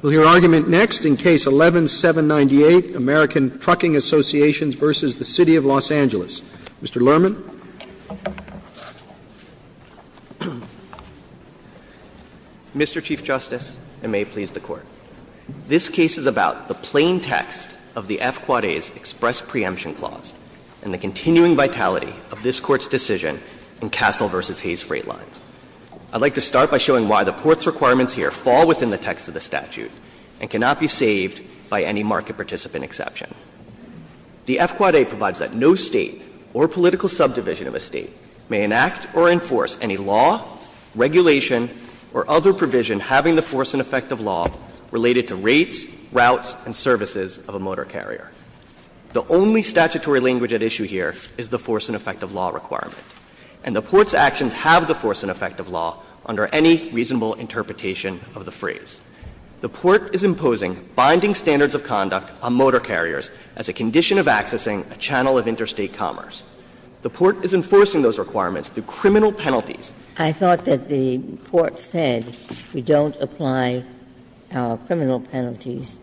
We'll hear argument next in Case 11-798, American Trucking Associations v. City of Los Angeles. Mr. Lerman. Mr. Chief Justice, and may it please the Court. This case is about the plain text of the F-Quad A's express preemption clause and the continuing vitality of this Court's decision in Castle v. Hayes Freight Lines. I'd like to start by showing why the Port's requirements here fall within the text of the statute and cannot be saved by any market participant exception. The F-Quad A provides that no State or political subdivision of a State may enact or enforce any law, regulation, or other provision having the force and effect of law related to rates, routes, and services of a motor carrier. The only statutory language at issue here is the force and effect of law requirement. And the Port's actions have the force and effect of law under any reasonable interpretation of the phrase. The Port is imposing binding standards of conduct on motor carriers as a condition of accessing a channel of interstate commerce. The Port is enforcing those requirements through criminal penalties. I thought that the Port said we don't apply our criminal penalties,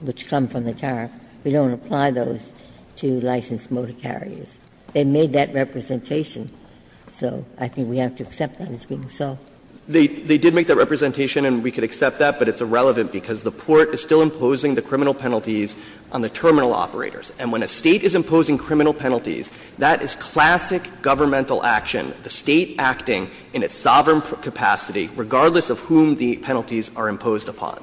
which come from the tariff, we don't apply those to licensed motor carriers. They made that representation. So I think we have to accept that as being so. They did make that representation and we could accept that, but it's irrelevant because the Port is still imposing the criminal penalties on the terminal operators. And when a State is imposing criminal penalties, that is classic governmental action, the State acting in its sovereign capacity regardless of whom the penalties are imposed upon.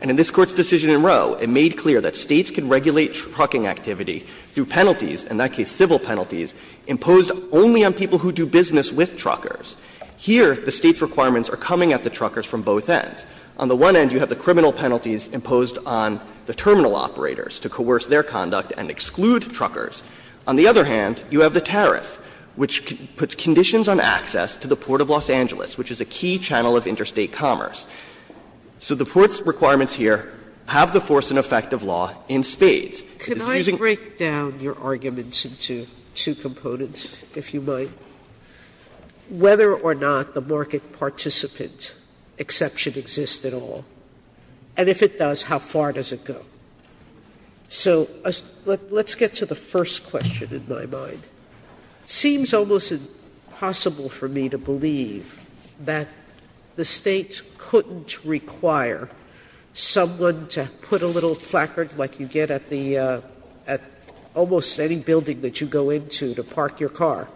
And in this Court's decision in Roe, it made clear that States can regulate trucking activity through penalties, in that case civil penalties, imposed only on people who do business with truckers. Here, the State's requirements are coming at the truckers from both ends. On the one end, you have the criminal penalties imposed on the terminal operators to coerce their conduct and exclude truckers. On the other hand, you have the tariff, which puts conditions on access to the Port of Los Angeles, which is a key channel of interstate commerce. So the Port's requirements here have the force and effect of law in spades. Can I break down your arguments into two components, if you might? Whether or not the market participant exception exists at all, and if it does how far does it go? So let's get to the first question in my mind. It seems almost impossible for me to believe that the State couldn't require someone to put a little placard like you get at the almost any building that you go into to park your car.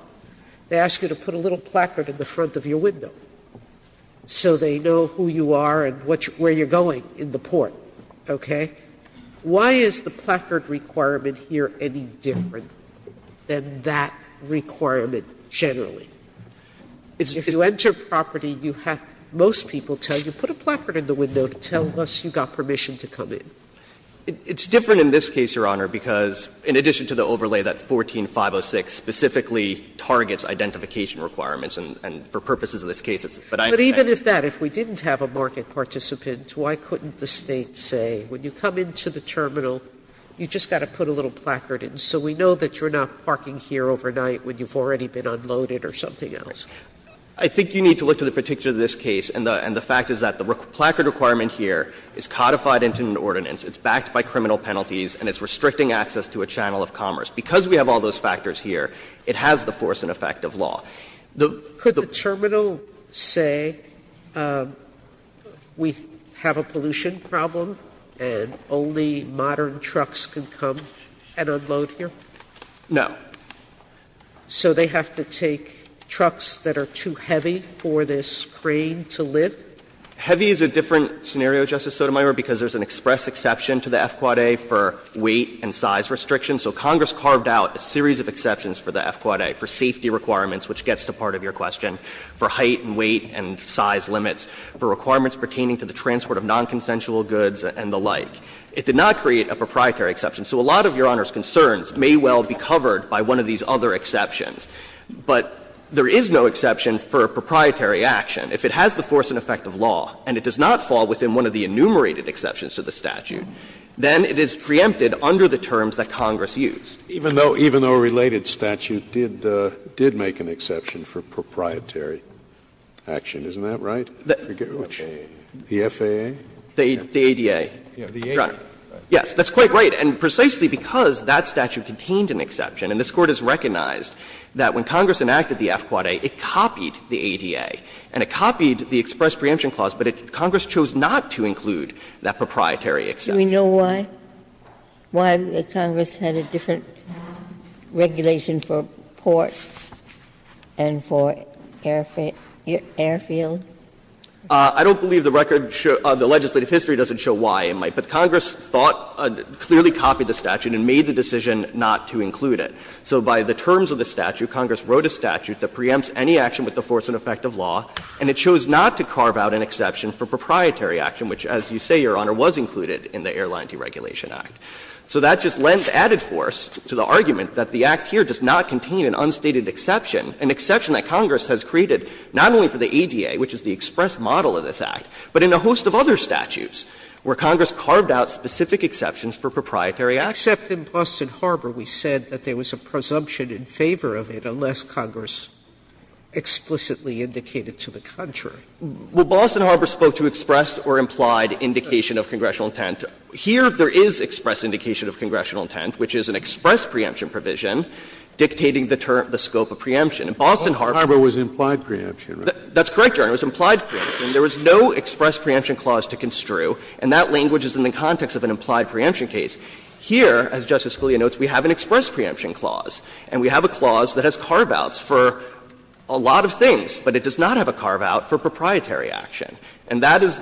They ask you to put a little placard in the front of your window, so they know who you are and where you're going in the port, okay? Why is the placard requirement here any different than that requirement generally? If you enter property, you have to, most people tell you, put a placard in the window to tell us you got permission to come in. It's different in this case, Your Honor, because in addition to the overlay, that 14-506 specifically targets identification requirements and for purposes of this case it's, but I understand. But even if that, if we didn't have a market participant, why couldn't the State say, when you come into the terminal, you just got to put a little placard in, so we know that you're not parking here overnight when you've already been unloaded or something else? I think you need to look to the particulars of this case, and the fact is that the placard requirement here is codified into an ordinance, it's backed by criminal penalties, and it's restricting access to a channel of commerce. Because we have all those factors here, it has the force and effect of law. The, the. Sotomayor's Court, could the terminal say, we have a pollution problem and only modern trucks can come and unload here? No. So they have to take trucks that are too heavy for this crane to lift? Heavy is a different scenario, Justice Sotomayor, because there's an express exception to the FQUA for weight and size restrictions. So Congress carved out a series of exceptions for the FQUA for safety requirements, which gets to part of your question, for height and weight and size limits, for requirements pertaining to the transport of nonconsensual goods and the like. It did not create a proprietary exception. So a lot of Your Honor's concerns may well be covered by one of these other exceptions. But there is no exception for a proprietary action. If it has the force and effect of law and it does not fall within one of the enumerated exceptions to the statute, then it is preempted under the terms that Congress used. Scalia. Even though, even though a related statute did, did make an exception for proprietary action, isn't that right? The FAA? The ADA. Yes. Yes, that's quite right. And precisely because that statute contained an exception, and this Court has recognized that when Congress enacted the FQUA, it copied the ADA, and it copied the express preemption clause, but Congress chose not to include that proprietary exception. Ginsburg. Do we know why, why the Congress had a different regulation for port and for airfield? I don't believe the record shows, the legislative history doesn't show why it might. But Congress thought, clearly copied the statute and made the decision not to include it. So by the terms of the statute, Congress wrote a statute that preempts any action with the force and effect of law, and it chose not to carve out an exception for proprietary action, which, as you say, Your Honor, was included in the Airline Deregulation Act. So that just lends added force to the argument that the Act here does not contain an unstated exception, an exception that Congress has created not only for the ADA, which is the express model of this Act, but in a host of other statutes where Congress carved out specific exceptions for proprietary action. Sotomayor, except in Boston Harbor we said that there was a presumption in favor of it unless Congress explicitly indicated to the country. Well, Boston Harbor spoke to express or implied indication of congressional intent. Here, there is express indication of congressional intent, which is an express preemption provision dictating the scope of preemption. In Boston Harbor, Boston Harbor was implied preemption, right? That's correct, Your Honor, it was implied preemption. There was no express preemption clause to construe, and that language is in the context of an implied preemption case. Here, as Justice Scalia notes, we have an express preemption clause, and we have a clause that has carve-outs for a lot of things, but it does not have a carve-out for proprietary action. And that is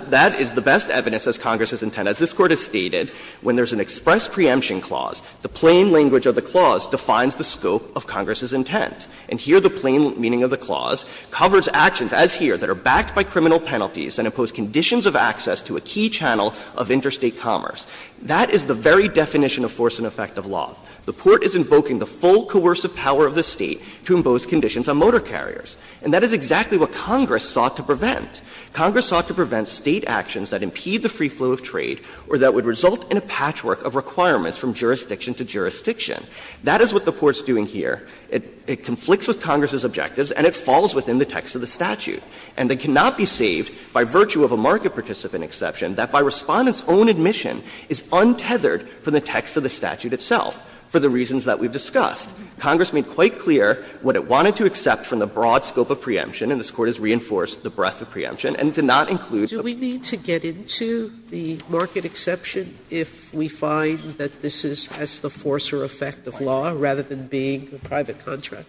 the best evidence as Congress's intent. As this Court has stated, when there is an express preemption clause, the plain language of the clause defines the scope of Congress's intent. And here, the plain meaning of the clause covers actions, as here, that are backed by criminal penalties and impose conditions of access to a key channel of interstate commerce. That is the very definition of force and effect of law. The Court is invoking the full coercive power of the State to impose conditions on motor carriers. And that is exactly what Congress sought to prevent. Congress sought to prevent State actions that impede the free flow of trade or that would result in a patchwork of requirements from jurisdiction to jurisdiction. That is what the Court is doing here. It conflicts with Congress's objectives, and it falls within the text of the statute. And they cannot be saved by virtue of a market participant exception that, by Respondent's own admission, is untethered from the text of the statute itself, for the reasons that we've discussed. Congress made quite clear what it wanted to accept from the broad scope of preemption, and this Court has reinforced the breadth of preemption, and it did not include the breadth of preemption. Sotomayor, do we need to get into the market exception if we find that this is as the force or effect of law rather than being a private contract?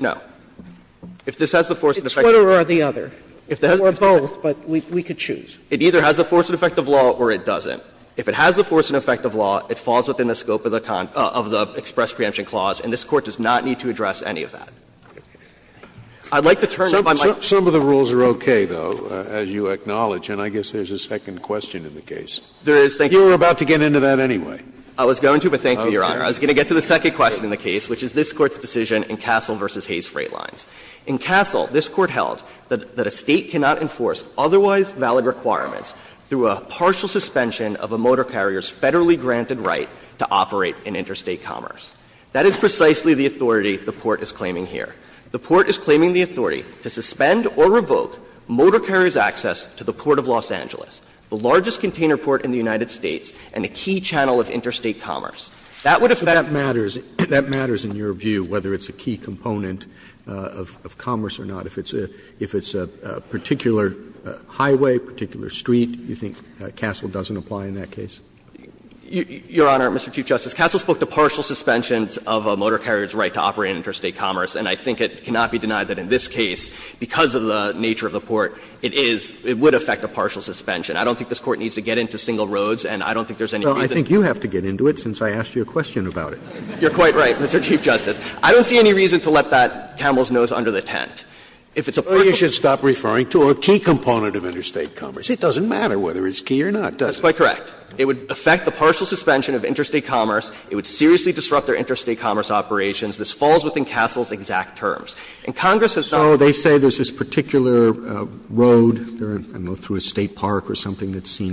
No. If this has the force and effect of law. It's one or the other. Or both, but we could choose. It either has the force and effect of law or it doesn't. If it has the force and effect of law, it falls within the scope of the express preemption clause, and this Court does not need to address any of that. I'd like to turn to my mic. Some of the rules are okay, though, as you acknowledge, and I guess there's a second question in the case. There is, thank you. You were about to get into that anyway. I was going to, but thank you, Your Honor. I was going to get to the second question in the case, which is this Court's decision in Castle v. Hayes Freight Lines. In Castle, this Court held that a State cannot enforce otherwise valid requirements through a partial suspension of a motor carrier's federally granted right to operate in interstate commerce. That is precisely the authority the Port is claiming here. The Port is claiming the authority to suspend or revoke motor carrier's access to the Port of Los Angeles, the largest container port in the United States and a key channel of interstate commerce. That would affect the Port. Do you agree with that view, whether it's a key component of commerce or not, if it's a particular highway, particular street? Do you think Castle doesn't apply in that case? Your Honor, Mr. Chief Justice, Castle spoke to partial suspensions of a motor carrier's right to operate in interstate commerce, and I think it cannot be denied that in this case, because of the nature of the Port, it is, it would affect a partial suspension. I don't think this Court needs to get into single roads, and I don't think there's any reason to. Well, I think you have to get into it, since I asked you a question about it. You're quite right, Mr. Chief Justice. I don't see any reason to let that camel's nose under the tent. If it's a partial suspension of interstate commerce, it doesn't matter whether it's key or not, does it? That's quite correct. It would affect the partial suspension of interstate commerce, it would seriously disrupt their interstate commerce operations. This falls within Castle's exact terms. And Congress has not said that Castle doesn't apply in that case, because of the nature of the Port, it is, it would affect a partial suspension of interstate commerce, and I think there's no reason to get into it, since I asked you a question about that. The Court's rule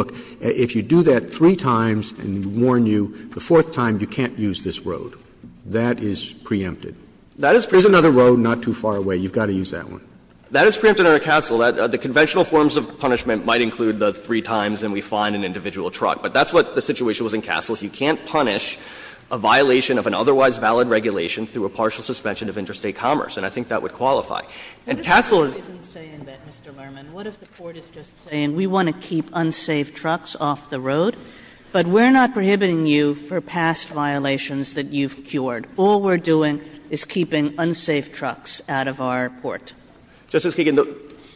is that if you do that three times, and I warned you, the fourth time you can't use this road. That is preempted. There is another road not too far away. You've got to use that one. That is preempted under Castle. The conventional forms of punishment might include the three times and we find an individual truck, but that's what the situation was in Castle. So you can't punish a violation of an otherwise valid regulation through a partial suspension of interstate commerce, and I think that would qualify. And Castle is Kagan We want to keep unsafe trucks off the road, but we're not prohibiting you for past violations that you've cured. All we're doing is keeping unsafe trucks out of our port. Justice Kagan,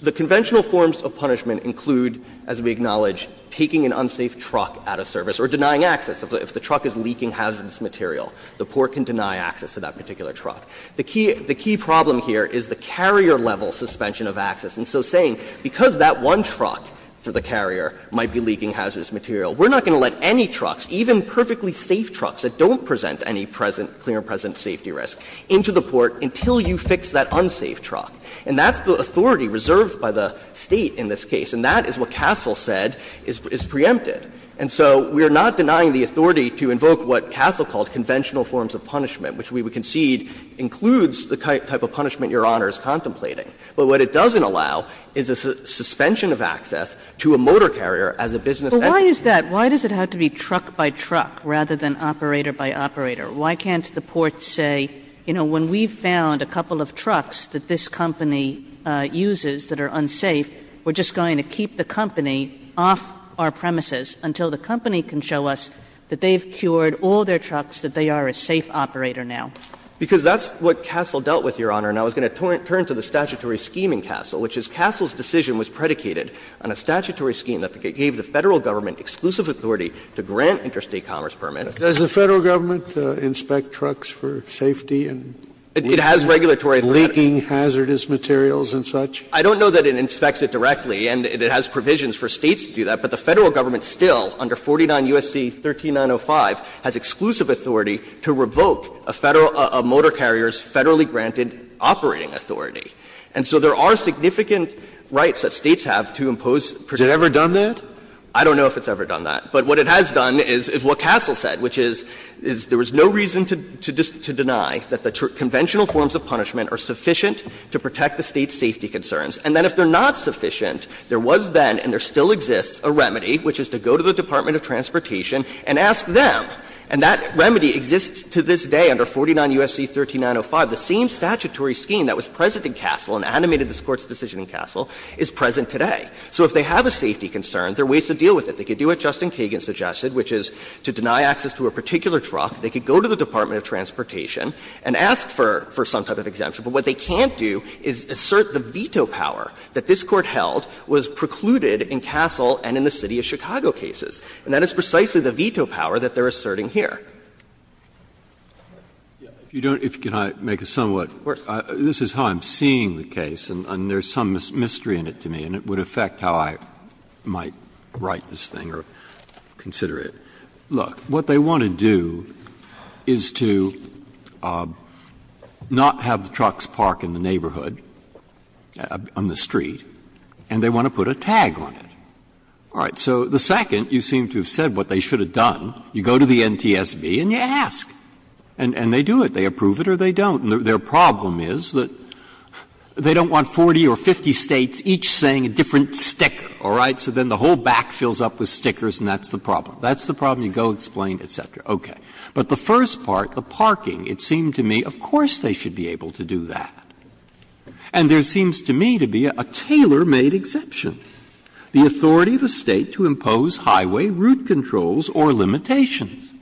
the conventional forms of punishment include, as we acknowledge, taking an unsafe truck out of service or denying access. If the truck is leaking hazardous material, the port can deny access to that particular truck. The key problem here is the carrier-level suspension of access. And so saying, because that one truck for the carrier might be leaking hazardous material, we're not going to let any trucks, even perfectly safe trucks that don't present any clear and present safety risk, into the port until you fix that unsafe truck. And that's the authority reserved by the State in this case, and that is what Castle said is preempted. And so we are not denying the authority to invoke what Castle called conventional forms of punishment, which we concede includes the type of punishment Your Honor is contemplating. But what it doesn't allow is a suspension of access to a motor carrier as a business entity. Kagan But why is that? Why does it have to be truck by truck rather than operator by operator? Why can't the port say, you know, when we found a couple of trucks that this company uses that are unsafe, we're just going to keep the company off our premises until the company can show us that they've cured all their trucks, that they are a safe operator now? Because that's what Castle dealt with, Your Honor. And I was going to turn to the statutory scheme in Castle, which is Castle's decision was predicated on a statutory scheme that gave the Federal government exclusive authority to grant interstate commerce permits. Scalia Does the Federal government inspect trucks for safety and leaking hazardous materials and such? I don't know that it inspects it directly, and it has provisions for States to do that. But the Federal government still, under 49 U.S.C. 13905, has exclusive authority to revoke a Federal – a motor carrier's Federally granted operating authority. And so there are significant rights that States have to impose. Breyer Has it ever done that? Scalia I don't know if it's ever done that. But what it has done is what Castle said, which is, is there was no reason to deny that the conventional forms of punishment are sufficient to protect the State's safety concerns. And then if they're not sufficient, there was then, and there still exists, a remedy, which is to go to the Department of Transportation and ask them. And that remedy exists to this day under 49 U.S.C. 13905. The same statutory scheme that was present in Castle and animated this Court's decision in Castle is present today. So if they have a safety concern, there are ways to deal with it. They could do what Justin Kagan suggested, which is to deny access to a particular truck. They could go to the Department of Transportation and ask for some type of exemption. But what they can't do is assert the veto power that this Court held was precluded in Castle and in the City of Chicago cases. And that is precisely the veto power that they're asserting here. Breyer If you don't, if you can make a somewhat. This is how I'm seeing the case, and there's some mystery in it to me, and it would affect how I might write this thing or consider it. Look, what they want to do is to not have the trucks park in the neighborhood on the street, and they want to put a tag on it. All right. So the second, you seem to have said what they should have done. You go to the NTSB and you ask. And they do it. They approve it or they don't. And their problem is that they don't want 40 or 50 States each saying a different sticker, all right? So then the whole back fills up with stickers, and that's the problem. That's the problem. You go explain, et cetera. Okay. But the first part, the parking, it seemed to me, of course they should be able to do that. And there seems to me to be a tailor-made exception, the authority of a State to impose highway route controls or limitations.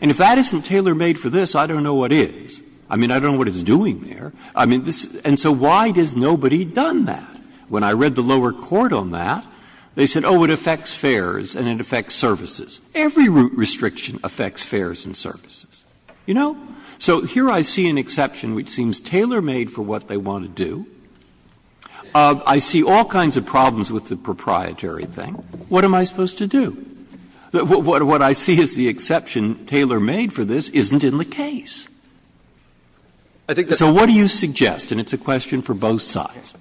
And if that isn't tailor-made for this, I don't know what is. I mean, I don't know what it's doing there. I mean, this — and so why has nobody done that? Every route restriction affects fares and services. You know? So here I see an exception which seems tailor-made for what they want to do. I see all kinds of problems with the proprietary thing. What am I supposed to do? What I see as the exception tailor-made for this isn't in the case. So what do you suggest? And it's a question for both sides.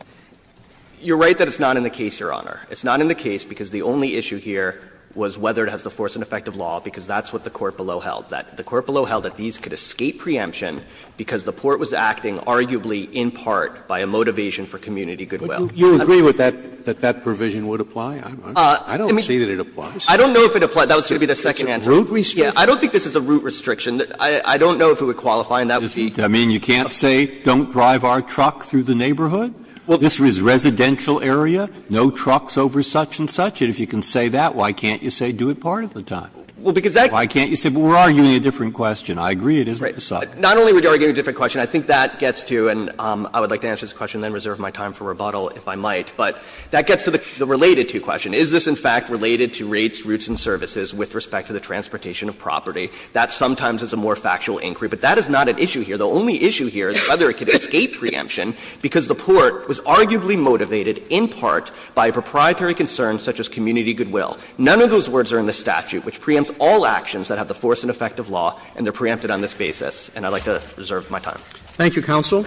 You're right that it's not in the case, Your Honor. It's not in the case because the only issue here was whether it has the force and effect of law, because that's what the court below held. The court below held that these could escape preemption because the Port was acting arguably in part by a motivation for community goodwill. Scalia. But you agree with that, that that provision would apply? I don't see that it applies. I don't know if it applies. That was going to be the second answer. It's a route restriction. I don't think this is a route restriction. I don't know if it would qualify, and that would be. I mean, you can't say don't drive our truck through the neighborhood? This is residential area. No trucks over such-and-such. And if you can say that, why can't you say do it part of the time? Why can't you say we're arguing a different question? I agree it isn't the same. Not only are we arguing a different question, I think that gets to, and I would like to answer this question and then reserve my time for rebuttal if I might, but that gets to the related to question. Is this, in fact, related to rates, routes and services with respect to the transportation of property? That sometimes is a more factual inquiry, but that is not an issue here. The only issue here is whether it could escape preemption because the Port was arguably motivated in part by a proprietary concern such as community goodwill. None of those words are in the statute, which preempts all actions that have the force and effect of law, and they're preempted on this basis. And I'd like to reserve my time. Roberts. Thank you, counsel.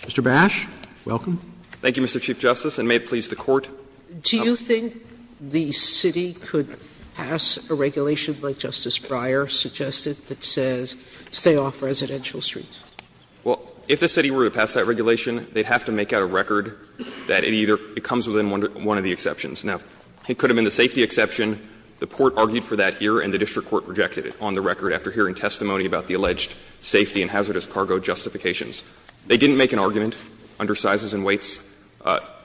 Mr. Bash, welcome. Thank you, Mr. Chief Justice. And may it please the Court. Do you think the city could pass a regulation like Justice Breyer suggested that says stay off residential streets? Well, if the city were to pass that regulation, they'd have to make out a record that it either comes within one of the exceptions. Now, it could have been the safety exception. The Port argued for that here, and the district court rejected it on the record after hearing testimony about the alleged safety and hazardous cargo justifications. They didn't make an argument under sizes and weights.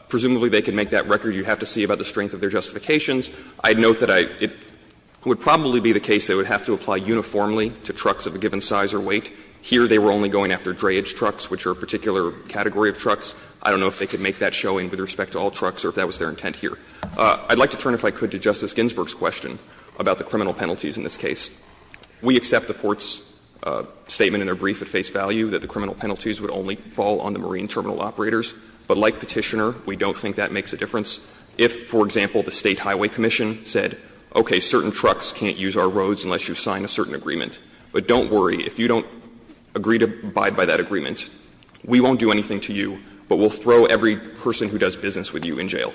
Presumably, they could make that record. You'd have to see about the strength of their justifications. I'd note that I — it would probably be the case they would have to apply uniformly to trucks of a given size or weight. Here, they were only going after dreyage trucks, which are a particular category of trucks. I don't know if they could make that showing with respect to all trucks or if that was their intent here. I'd like to turn, if I could, to Justice Ginsburg's question about the criminal penalties in this case. We accept the Port's statement in their brief at face value that the criminal penalties would only fall on the marine terminal operators. But like Petitioner, we don't think that makes a difference. If, for example, the State Highway Commission said, okay, certain trucks can't use our roads unless you sign a certain agreement, but don't worry, if you don't agree to abide by that agreement, we won't do anything to you, but we'll throw every person who does business with you in jail.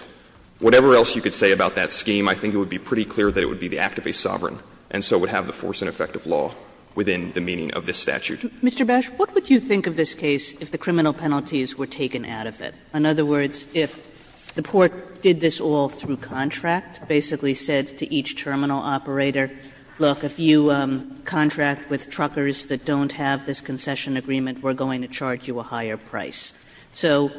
Whatever else you could say about that scheme, I think it would be pretty clear that it would be the act of a sovereign, and so would have the force and effect of law within the meaning of this statute. Kagan, Mr. Bash, what would you think of this case if the criminal penalties were taken out of it? In other words, if the Port did this all through contract, basically said to each terminal operator, look, if you contract with truckers that don't have this concession agreement, we're going to charge you a higher price. So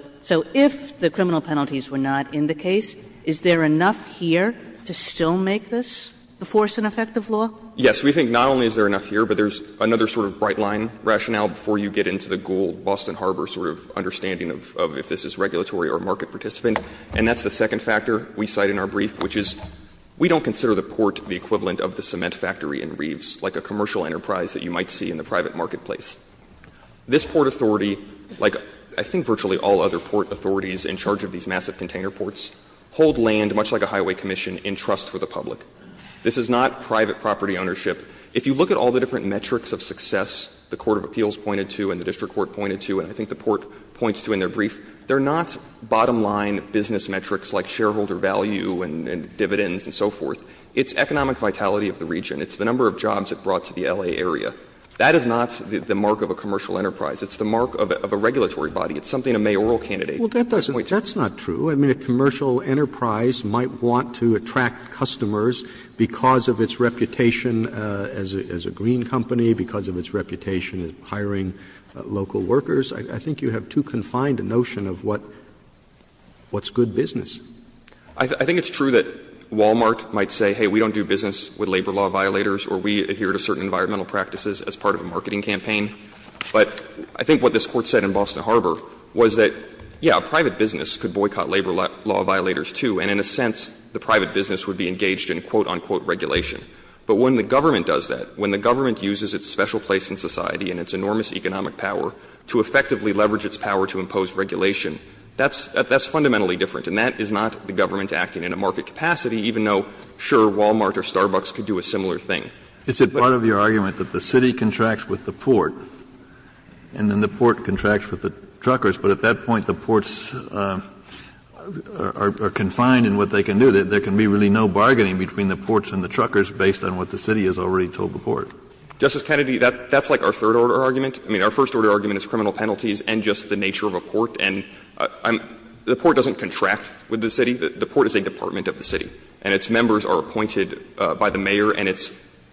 if the criminal penalties were not in the case, is there enough here to still make this the force and effect of law? Yes, we think not only is there enough here, but there's another sort of bright line rationale before you get into the gold Boston Harbor sort of understanding of if this is regulatory or market participant. And that's the second factor we cite in our brief, which is we don't consider the Port the equivalent of the cement factory in Reeves, like a commercial enterprise that you might see in the private marketplace. This Port authority, like I think virtually all other Port authorities in charge of these massive container ports, hold land, much like a highway commission, in trust for the public. This is not private property ownership. If you look at all the different metrics of success the court of appeals pointed to and the district court pointed to, and I think the Port points to in their brief, they're not bottom line business metrics like shareholder value and dividends and so forth. It's economic vitality of the region. It's the number of jobs it brought to the L.A. area. That is not the mark of a commercial enterprise. It's the mark of a regulatory body. It's something a mayoral candidate might point to. Roberts. Roberts. Roberts. If a commercial enterprise might want to attract customers because of its reputation as a green company, because of its reputation as hiring local workers, I think you have too confined a notion of what's good business. I think it's true that Walmart might say, hey, we don't do business with labor law violators or we adhere to certain environmental practices as part of a marketing campaign. But I think what this Court said in Boston Harbor was that, yes, a private business could boycott labor law violators, too, and in a sense, the private business would be engaged in, quote, unquote, regulation. But when the government does that, when the government uses its special place in society and its enormous economic power to effectively leverage its power to impose regulation, that's fundamentally different. And that is not the government acting in a market capacity, even though, sure, Walmart or Starbucks could do a similar thing. Kennedy, it's a part of your argument that the city contracts with the port and then the port contracts with the truckers, but at that point, the ports are confined in what they can do. There can be really no bargaining between the ports and the truckers based on what the city has already told the port. Justice Kennedy, that's like our third-order argument. I mean, our first-order argument is criminal penalties and just the nature of a port. And the port doesn't contract with the city. The port is a department of the city. And its members are appointed by the mayor and its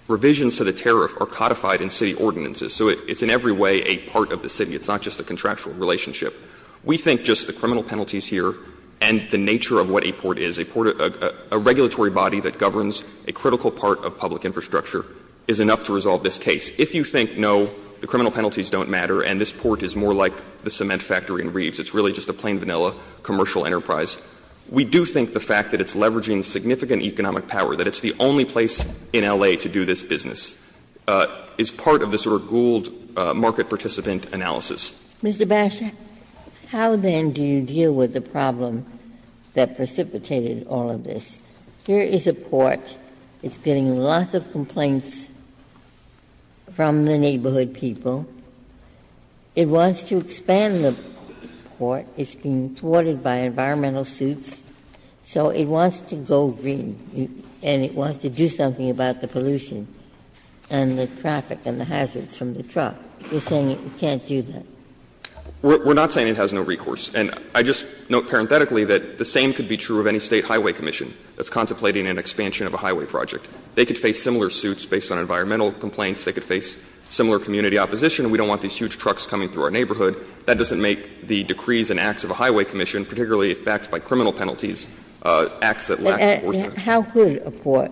revisions to the tariff are codified in city ordinances. So it's in every way a part of the city. It's not just a contractual relationship. We think just the criminal penalties here and the nature of what a port is, a port of a regulatory body that governs a critical part of public infrastructure is enough to resolve this case. If you think, no, the criminal penalties don't matter and this port is more like the cement factory in Reeves, it's really just a plain vanilla commercial enterprise, we do think the fact that it's leveraging significant economic power, that it's the market participant analysis. Ginsburg. Mr. Bash, how then do you deal with the problem that precipitated all of this? Here is a port, it's getting lots of complaints from the neighborhood people. It wants to expand the port. It's being thwarted by environmental suits, so it wants to go green and it wants to do something about the pollution and the traffic and the hazards from the truck. You're saying it can't do that. We're not saying it has no recourse. And I just note parenthetically that the same could be true of any State highway commission that's contemplating an expansion of a highway project. They could face similar suits based on environmental complaints. They could face similar community opposition. We don't want these huge trucks coming through our neighborhood. That doesn't make the decrees and acts of a highway commission, particularly if backed by criminal penalties, acts that lack enforcement. And how could a port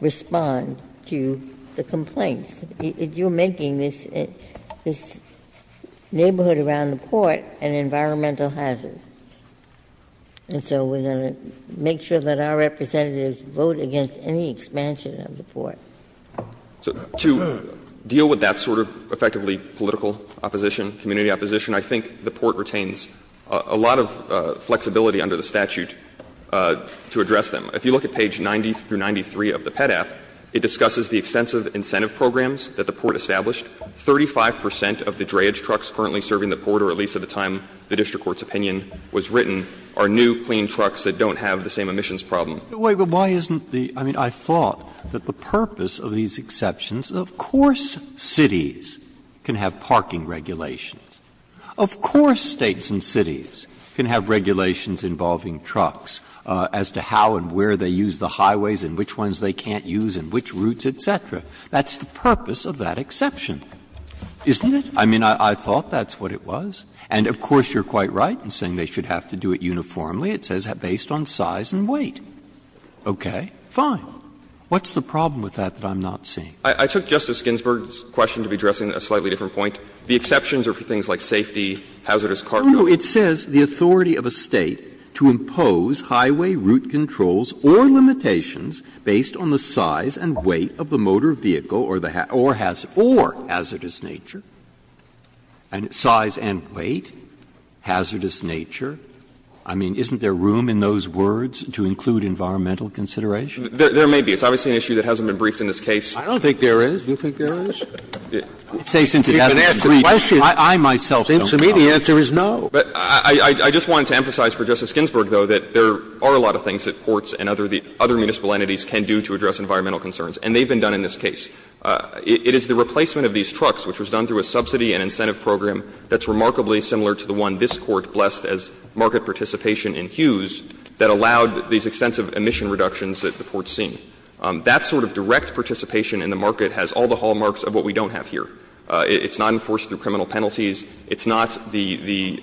respond to the complaints? You're making this neighborhood around the port an environmental hazard. And so we're going to make sure that our representatives vote against any expansion of the port. To deal with that sort of effectively political opposition, community opposition, I think the port retains a lot of flexibility under the statute to address them. If you look at page 90 through 93 of the PEDAP, it discusses the extensive incentive programs that the port established. 35 percent of the drayage trucks currently serving the port, or at least at the time the district court's opinion was written, are new, clean trucks that don't have the same emissions problem. Breyer, but why isn't the — I mean, I thought that the purpose of these exceptions is, of course cities can have parking regulations, of course States and cities can have regulations involving trucks as to how and where they use the highways and which ones they can't use and which routes, et cetera. That's the purpose of that exception, isn't it? I mean, I thought that's what it was. And of course you're quite right in saying they should have to do it uniformly. It says based on size and weight. Okay, fine. What's the problem with that that I'm not seeing? I took Justice Ginsburg's question to be addressing a slightly different point. The exceptions are for things like safety, hazardous cargo. Breyer, it says the authority of a State to impose highway route controls or limitations based on the size and weight of the motor vehicle or the — or hazardous nature. Size and weight, hazardous nature. I mean, isn't there room in those words to include environmental consideration? There may be. It's obviously an issue that hasn't been briefed in this case. I don't think there is. Do you think there is? I would say since it hasn't been briefed, I myself don't know. Since to me, the answer is no. But I just wanted to emphasize for Justice Ginsburg, though, that there are a lot of things that courts and other municipal entities can do to address environmental concerns, and they've been done in this case. It is the replacement of these trucks, which was done through a subsidy and incentive program that's remarkably similar to the one this Court blessed as market participation in Hughes that allowed these extensive emission reductions that the Court's seen. That sort of direct participation in the market has all the hallmarks of what we don't have here. It's not enforced through criminal penalties. It's not the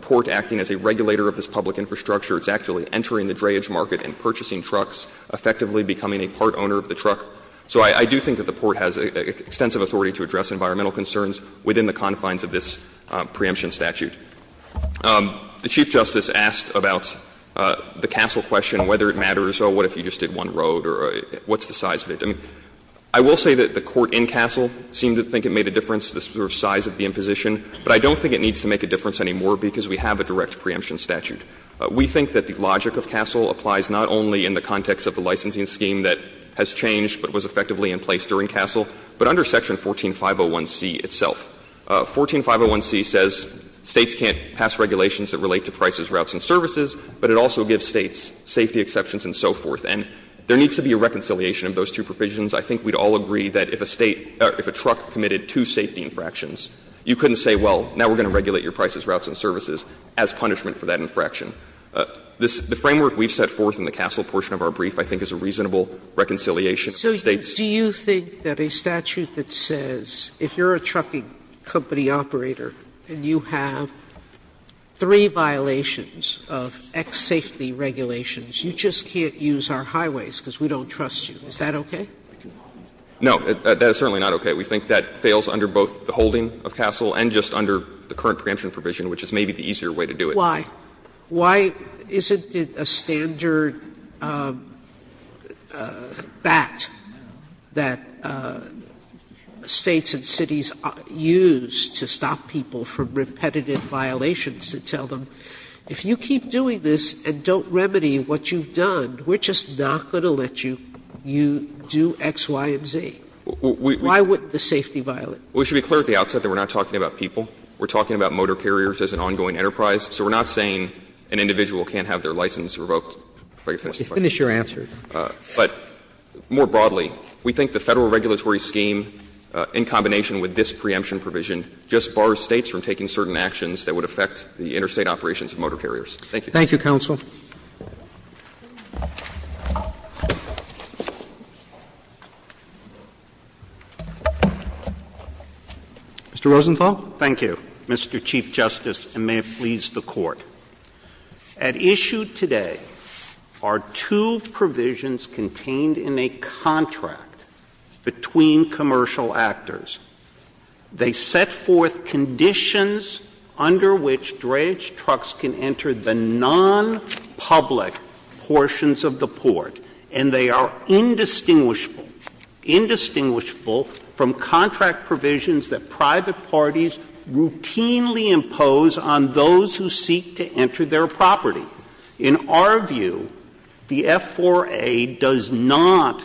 Port acting as a regulator of this public infrastructure. It's actually entering the dreyage market and purchasing trucks, effectively becoming a part owner of the truck. So I do think that the Port has extensive authority to address environmental concerns within the confines of this preemption statute. The Chief Justice asked about the Castle question, whether it matters, oh, what if you just did one road, or what's the size of it? I will say that the Court in Castle seemed to think it made a difference, the sort of size of the imposition, but I don't think it needs to make a difference anymore because we have a direct preemption statute. We think that the logic of Castle applies not only in the context of the licensing scheme that has changed but was effectively in place during Castle, but under Section 14501c itself. 14501c says States can't pass regulations that relate to prices, routes, and services, but it also gives States safety exceptions and so forth. And there needs to be a reconciliation of those two provisions. I think we'd all agree that if a State or if a truck committed two safety infractions, you couldn't say, well, now we're going to regulate your prices, routes, and services as punishment for that infraction. The framework we've set forth in the Castle portion of our brief I think is a reasonable reconciliation. Sotomayor, do you think that a statute that says, if you're a trucking company and you have three violations of X safety regulations, you just can't use our highways because we don't trust you, is that okay? No, that is certainly not okay. We think that fails under both the holding of Castle and just under the current preemption provision, which is maybe the easier way to do it. Why? Sotomayor, why isn't it a standard bat that States and cities use to stop people from repetitive violations to tell them, if you keep doing this and don't remedy what you've done, we're just not going to let you do X, Y, and Z? Why wouldn't the safety violate? We should be clear at the outset that we're not talking about people. We're talking about motor carriers as an ongoing enterprise. So we're not saying an individual can't have their license revoked. If I could finish the question. Finish your answer. But more broadly, we think the Federal regulatory scheme in combination with this preemption provision just bars States from taking certain actions that would affect the interstate operations of motor carriers. Thank you. Thank you, counsel. Mr. Rosenthal. Thank you, Mr. Chief Justice, and may it please the Court. At issue today are two provisions contained in a contract between commercial actors. They set forth conditions under which dredge trucks can enter the non-public portions of the port, and they are indistinguishable, indistinguishable from contract provisions that private parties routinely impose on those who seek to enter their property. In our view, the F4A does not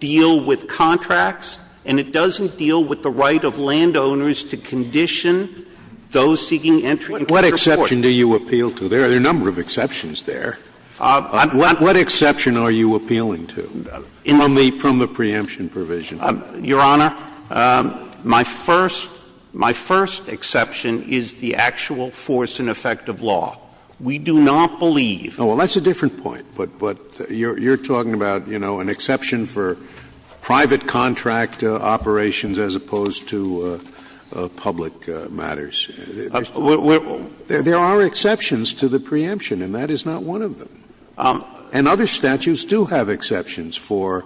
deal with contracts, and it doesn't deal with the right of landowners to condition those seeking entry into their port. What exception do you appeal to? There are a number of exceptions there. What exception are you appealing to from the preemption provision? Your Honor, my first exception is the actual force and effect of law. We do not believe. Oh, well, that's a different point, but you're talking about, you know, an exception for private contract operations as opposed to public matters. There are exceptions to the preemption, and that is not one of them. And other statutes do have exceptions for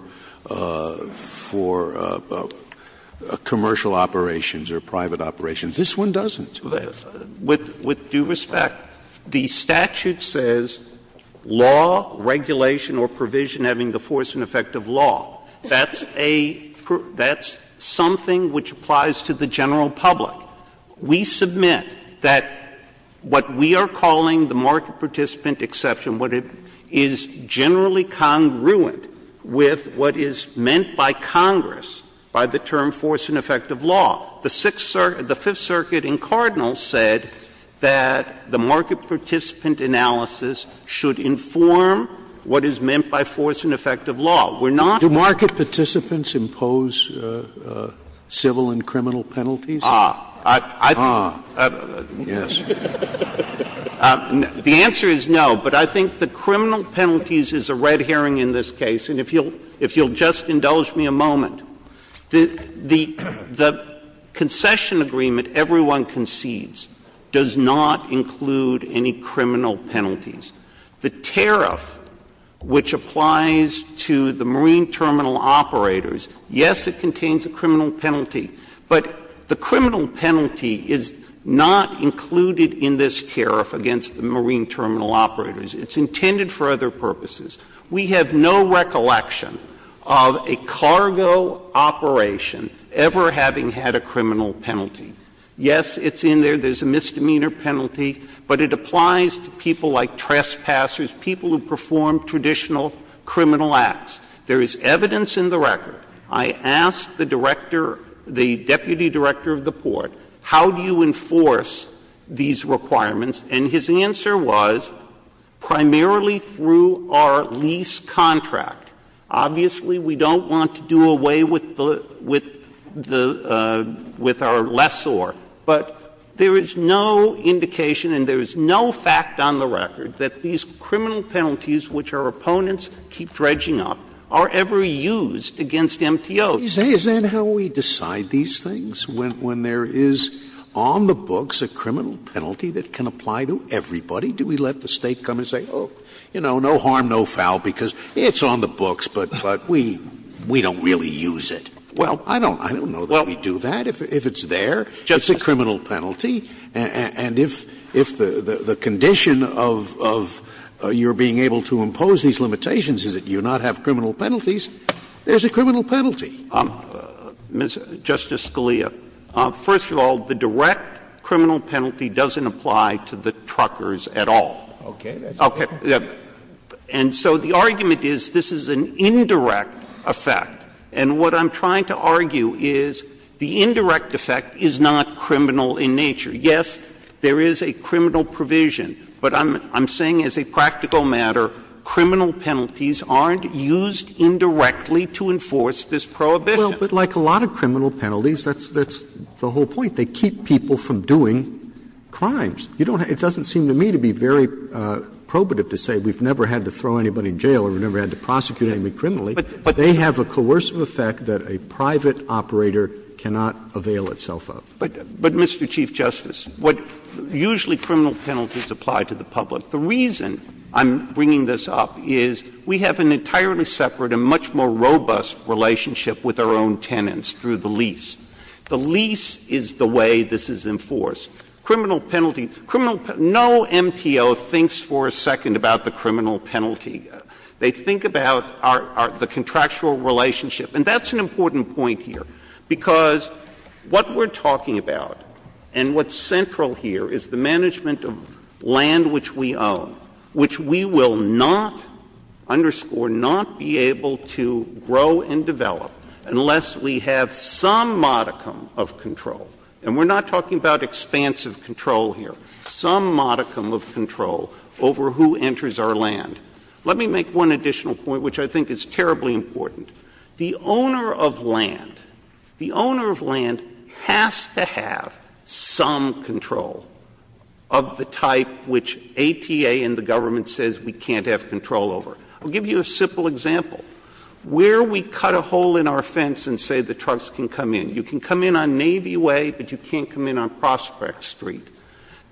commercial operations or private operations. This one doesn't. With due respect, the statute says law, regulation, or provision having the force and effect of law. That's a group that's something which applies to the general public. We submit that what we are calling the market participant exception, what it is generally congruent with what is meant by Congress, by the term force and effect of law. The Fifth Circuit in Cardinal said that the market participant analysis should inform what is meant by force and effect of law. We're not. Do market participants impose civil and criminal penalties? Ah. I think the answer is no, but I think the criminal penalties is a red herring in this case, and if you'll just indulge me a moment. The concession agreement everyone concedes does not include any criminal penalties. The tariff which applies to the marine terminal operators, yes, it contains a criminal penalty, but the criminal penalty is not included in this tariff against the marine terminal operators. It's intended for other purposes. We have no recollection of a cargo operation ever having had a criminal penalty. Yes, it's in there. There's a misdemeanor penalty, but it applies to people like trespassers, people who perform traditional criminal acts. There is evidence in the record. I asked the director, the deputy director of the port, how do you enforce these requirements, and his answer was, primarily through our lease contract. Obviously, we don't want to do away with the — with our lessor, but there is no indication and there is no fact on the record that these criminal penalties, which our opponents keep dredging up, are ever used against MTOs. Scalia Is that how we decide these things, when there is on the books a criminal penalty that can apply to everybody? Do we let the State come and say, oh, you know, no harm, no foul, because it's on the books, but we don't really use it? Well, I don't know that we do that. If it's there, it's a criminal penalty. And if the condition of your being able to impose these limitations is that you do not have criminal penalties, there is a criminal penalty. Mr. Scalia, first of all, the direct criminal penalty doesn't apply to the truckers at all. Okay. And so the argument is this is an indirect effect, and what I'm trying to argue is the indirect effect is not criminal in nature. Yes, there is a criminal provision, but I'm saying as a practical matter, criminal penalties aren't used indirectly to enforce this prohibition. Well, but like a lot of criminal penalties, that's the whole point. They keep people from doing crimes. You don't have to be very probative to say we've never had to throw anybody in jail or we've never had to prosecute anybody criminally. But they have a coercive effect that a private operator cannot avail itself of. But, Mr. Chief Justice, what usually criminal penalties apply to the public, the reason I'm bringing this up is we have an entirely separate and much more robust relationship with our own tenants through the lease. The lease is the way this is enforced. Criminal penalty, criminal penalty, no MTO thinks for a second about the criminal penalty. They think about our — the contractual relationship. And that's an important point here, because what we're talking about and what's central here is the management of land which we own, which we will not, underscore, not be able to grow and develop unless we have some modicum of control. And we're not talking about expansive control here, some modicum of control over who enters our land. Let me make one additional point, which I think is terribly important. The owner of land, the owner of land has to have some control of the type which ATA and the government says we can't have control over. I'll give you a simple example. Where we cut a hole in our fence and say the trucks can come in, you can come in on Navy Way, but you can't come in on Prospect Street,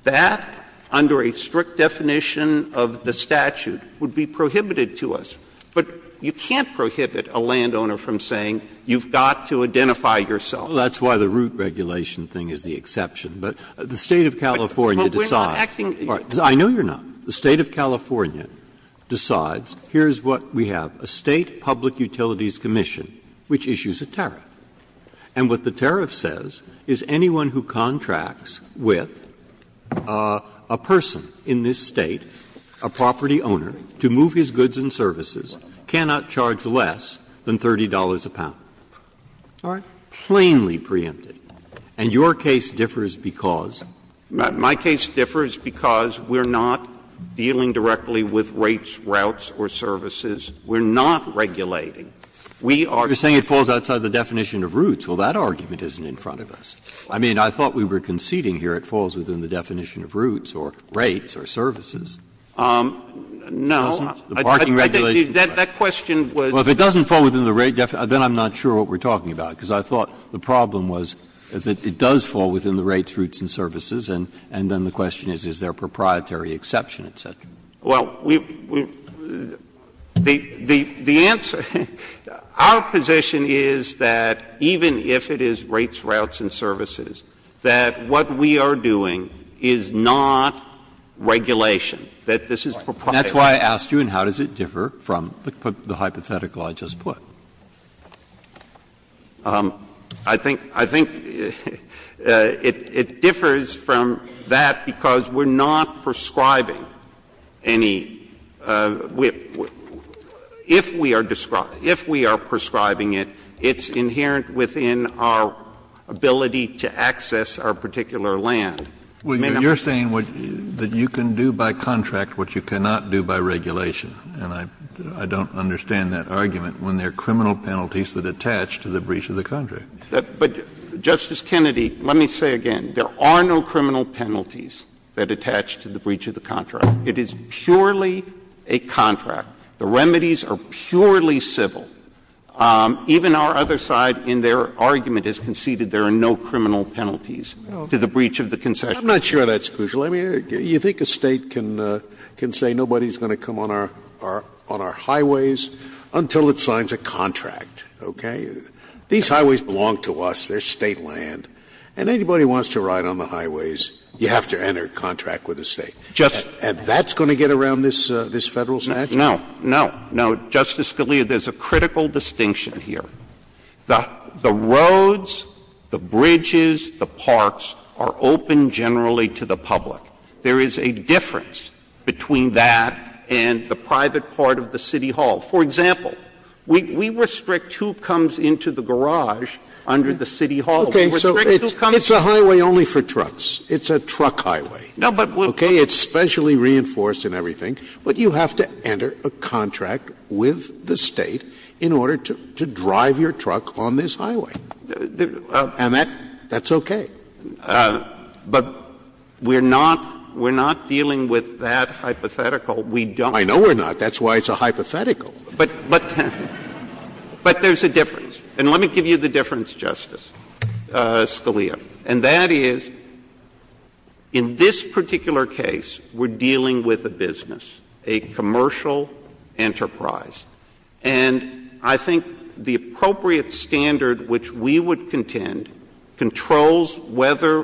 that, under a strict definition of the statute, would be prohibited to us. But you can't prohibit a landowner from saying you've got to identify yourself. Breyer, that's why the root regulation thing is the exception. But the State of California decides. I know you're not. The State of California decides, here's what we have, a State Public Utilities Commission which issues a tariff. And what the tariff says is anyone who contracts with a person in this State, a property owner, to move his goods and services cannot charge less than $30 a pound. All right? Plainly preempted. And your case differs because? My case differs because we're not dealing directly with rates, routes, or services. We're not regulating. We are. Breyer, you're saying it falls outside the definition of routes. Well, that argument isn't in front of us. I mean, I thought we were conceding here it falls within the definition of routes or rates or services. No. The parking regulation. That question was. Well, if it doesn't fall within the rate definition, then I'm not sure what we're talking about, because I thought the problem was that it does fall within the rates, And then the question is, is there a proprietary exception, et cetera. Well, we the answer, our position is that even if it is rates, routes, and services, that what we are doing is not regulation, that this is proprietary. That's why I asked you, and how does it differ from the hypothetical I just put? I think it differs from that because we're not prescribing. If we are prescribing it, it's inherent within our ability to access our particular land. You're saying that you can do by contract what you cannot do by regulation, and I don't understand that argument when there are criminal penalties that attach to the breach of the contract. But, Justice Kennedy, let me say again, there are no criminal penalties that attach to the breach of the contract. It is purely a contract. The remedies are purely civil. Even our other side in their argument has conceded there are no criminal penalties to the breach of the concession. I'm not sure that's crucial. I mean, you think a State can say nobody's going to come on our highways until it signs a contract, okay? These highways belong to us. They're State land. And anybody who wants to ride on the highways, you have to enter a contract with the State. And that's going to get around this Federal statute? No. No. No. Justice Scalia, there's a critical distinction here. The roads, the bridges, the parks are open generally to the public. There is a difference between that and the private part of the city hall. For example, we restrict who comes into the garage under the city hall. We restrict who comes in. It's a highway only for trucks. It's a truck highway, okay? It's specially reinforced and everything. But you have to enter a contract with the State in order to drive your truck on this highway. And that's okay. But we're not dealing with that hypothetical. We don't. I know we're not. That's why it's a hypothetical. But there's a difference. And let me give you the difference, Justice. Scalia. And that is, in this particular case, we're dealing with a business, a commercial enterprise. And I think the appropriate standard which we would contend controls whether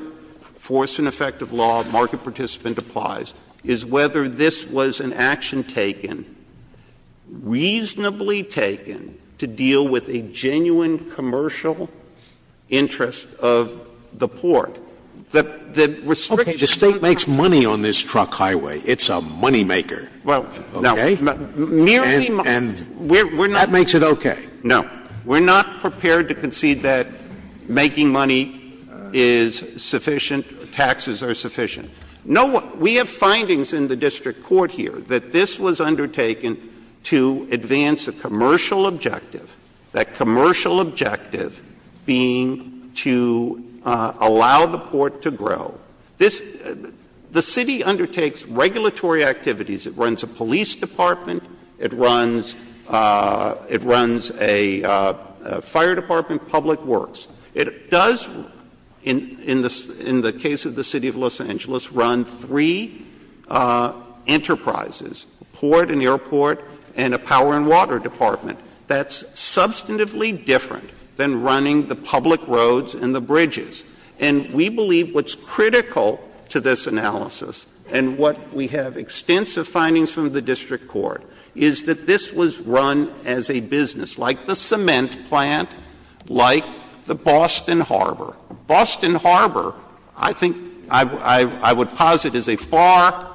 force and effect of law, market participant applies, is whether this was an action taken, reasonably taken, to deal with a genuine commercial interest of the port. The restriction on the roadway. Okay. The State makes money on this truck highway. It's a moneymaker. Okay? And that makes it okay. No. We're not prepared to concede that making money is sufficient, taxes are sufficient. We have findings in the district court here that this was undertaken to advance a commercial objective, that commercial objective being to allow the port to grow. The City undertakes regulatory activities. It runs a police department. It runs a fire department, public works. It does, in the case of the City of Los Angeles, run three enterprises, a port, an airport, and a power and water department. That's substantively different than running the public roads and the bridges. And we believe what's critical to this analysis, and what we have extensive findings from the district court, is that this was run as a business. And there were a number of cases, like the cement plant, like the Boston Harbor. Boston Harbor I think I would posit is a far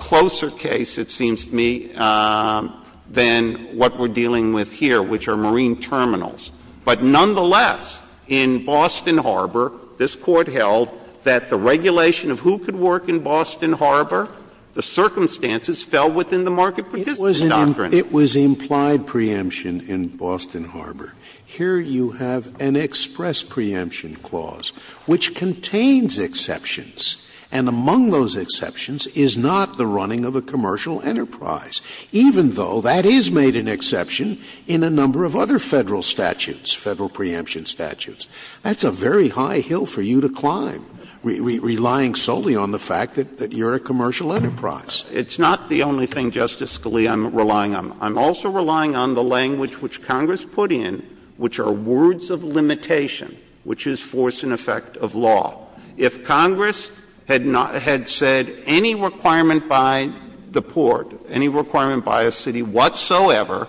closer case, it seems to me, than what we're dealing with here, which are marine terminals. But nonetheless, in Boston Harbor, this Court held that the regulation of who could work in Boston Harbor, the circumstances fell within the market participant doctrine. Scalia, it was implied preemption in Boston Harbor. Here you have an express preemption clause, which contains exceptions, and among those exceptions is not the running of a commercial enterprise, even though that is made an exception in a number of other Federal statutes, Federal preemption statutes. That's a very high hill for you to climb, relying solely on the fact that you're a commercial enterprise. It's not the only thing, Justice Scalia, I'm relying on. I'm also relying on the language which Congress put in, which are words of limitation, which is force and effect of law. If Congress had not — had said any requirement by the Port, any requirement by a city whatsoever,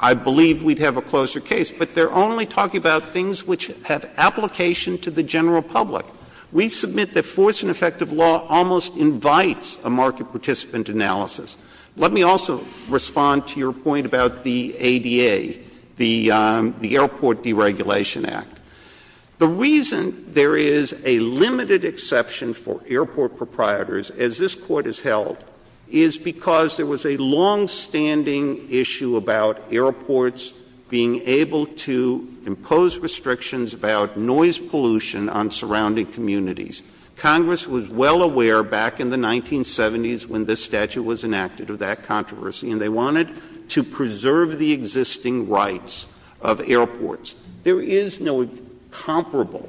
I believe we'd have a closer case. But they're only talking about things which have application to the general public. We submit that force and effect of law almost invites a market participant analysis. Let me also respond to your point about the ADA, the Airport Deregulation Act. The reason there is a limited exception for airport proprietors, as this Court has held, is because there was a longstanding issue about airports being able to impose restrictions about noise pollution on surrounding communities. Congress was well aware back in the 1970s when this statute was enacted of that controversy, and they wanted to preserve the existing rights of airports. There is no comparable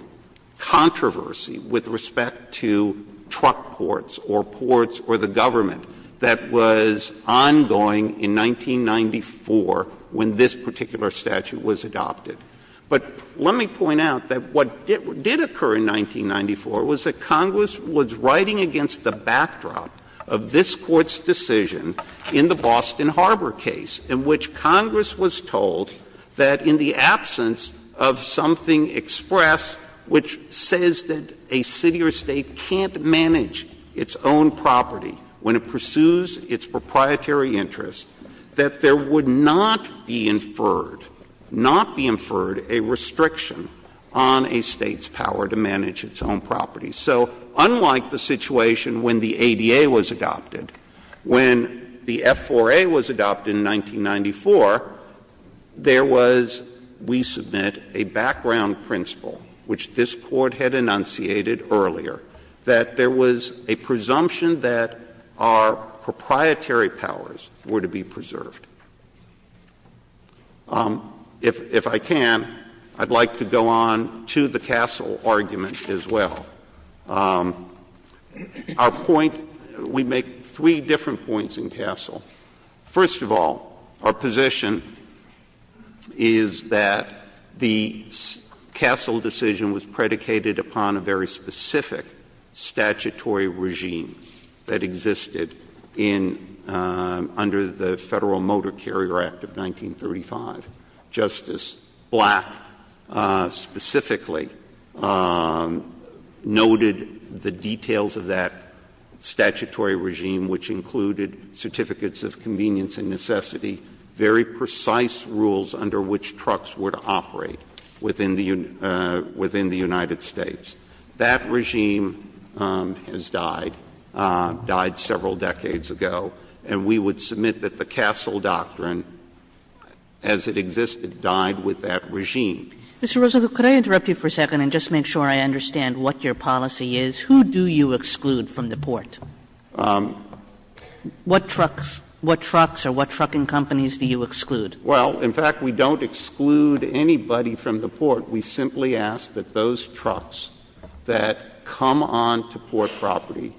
controversy with respect to truck ports or ports or the government that was ongoing in 1994 when this particular statute was adopted. But let me point out that what did occur in 1994 was that Congress was writing against the backdrop of this Court's decision in the Boston Harbor case, in which Congress was told that in the absence of something expressed which says that a city or state can't manage its own property when it pursues its proprietary interests, that there would not be inferred, not be inferred a restriction on a state's power to manage its own property. So unlike the situation when the ADA was adopted, when the F4A was adopted in 1994, there was, we submit, a background principle which this Court had enunciated earlier, that there was a presumption that our proprietary powers were to be preserved. If I can, I'd like to go on to the Castle argument as well. Our point, we make three different points in Castle. First of all, our position is that the Castle decision was predicated upon a very specific statutory regime that existed in, under the Federal Motor Carrier Act of 1935. Justice Black specifically noted the details of that statutory regime, which included certificates of convenience and necessity, very precise rules under which trucks were to operate within the United States. That regime has died, died several decades ago, and we would submit that the Castle doctrine, as it existed, died with that regime. Kagan. Kagan. Ms. Rosenthal, could I interrupt you for a second and just make sure I understand what your policy is? Who do you exclude from the Port? What trucks, what trucks or what trucking companies do you exclude? Well, in fact, we don't exclude anybody from the Port. We simply ask that those trucks that come on to Port property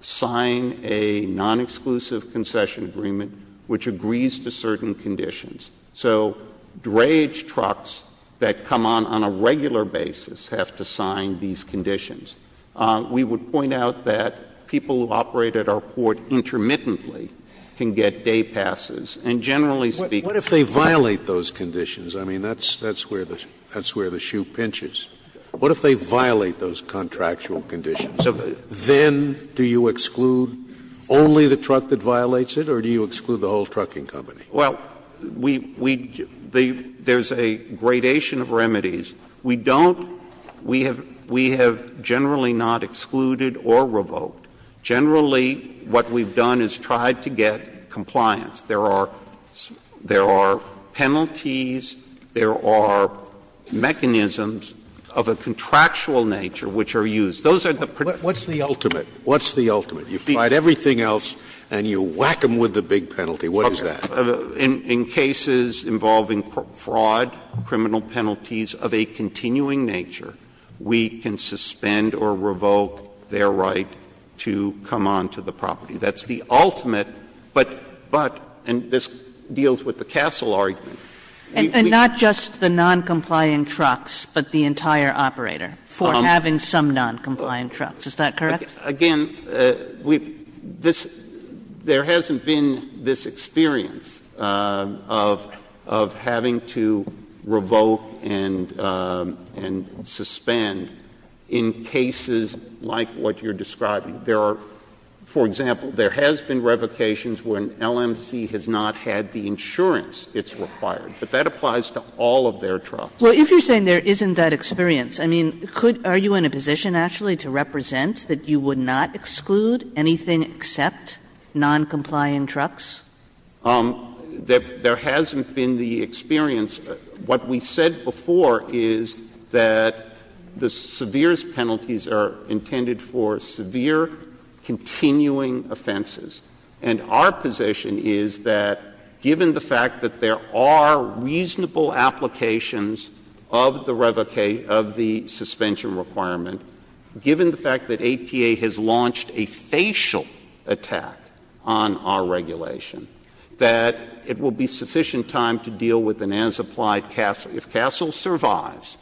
sign a non-exclusive concession agreement which agrees to certain conditions. So, drayage trucks that come on on a regular basis have to sign these conditions. We would point out that people who operate at our Port intermittently can get day passes. And generally speaking, What if they violate those conditions? I mean, that's where the shoe pinches. What if they violate those contractual conditions? Then do you exclude only the truck that violates it or do you exclude the whole trucking company? Well, we, we, there's a gradation of remedies. We don't, we have, we have generally not excluded or revoked. Generally, what we've done is tried to get compliance. There are penalties, there are mechanisms of a contractual nature which are used. Those are the particular What's the ultimate? What's the ultimate? You've tried everything else and you whack them with the big penalty. What is that? In cases involving fraud, criminal penalties of a continuing nature, we can suspend or revoke their right to come on to the property. That's the ultimate, but, but, and this deals with the Castle argument. And not just the noncompliant trucks, but the entire operator for having some noncompliant trucks, is that correct? Again, we, this, there hasn't been this experience of, of having to revoke and, and suspend in cases like what you're describing. There are, for example, there has been revocations when LMC has not had the insurance it's required. But that applies to all of their trucks. Well, if you're saying there isn't that experience, I mean, could, are you in a position actually to represent that you would not exclude anything except noncompliant trucks? There, there hasn't been the experience. What we said before is that the severest penalties are intended for severe continuing offenses. And our position is that given the fact that there are reasonable applications of the revocation, of the suspension requirement, given the fact that ATA has launched a facial attack on our regulation, that it will be sufficient time to deal with an unsupplied, if Castle survives.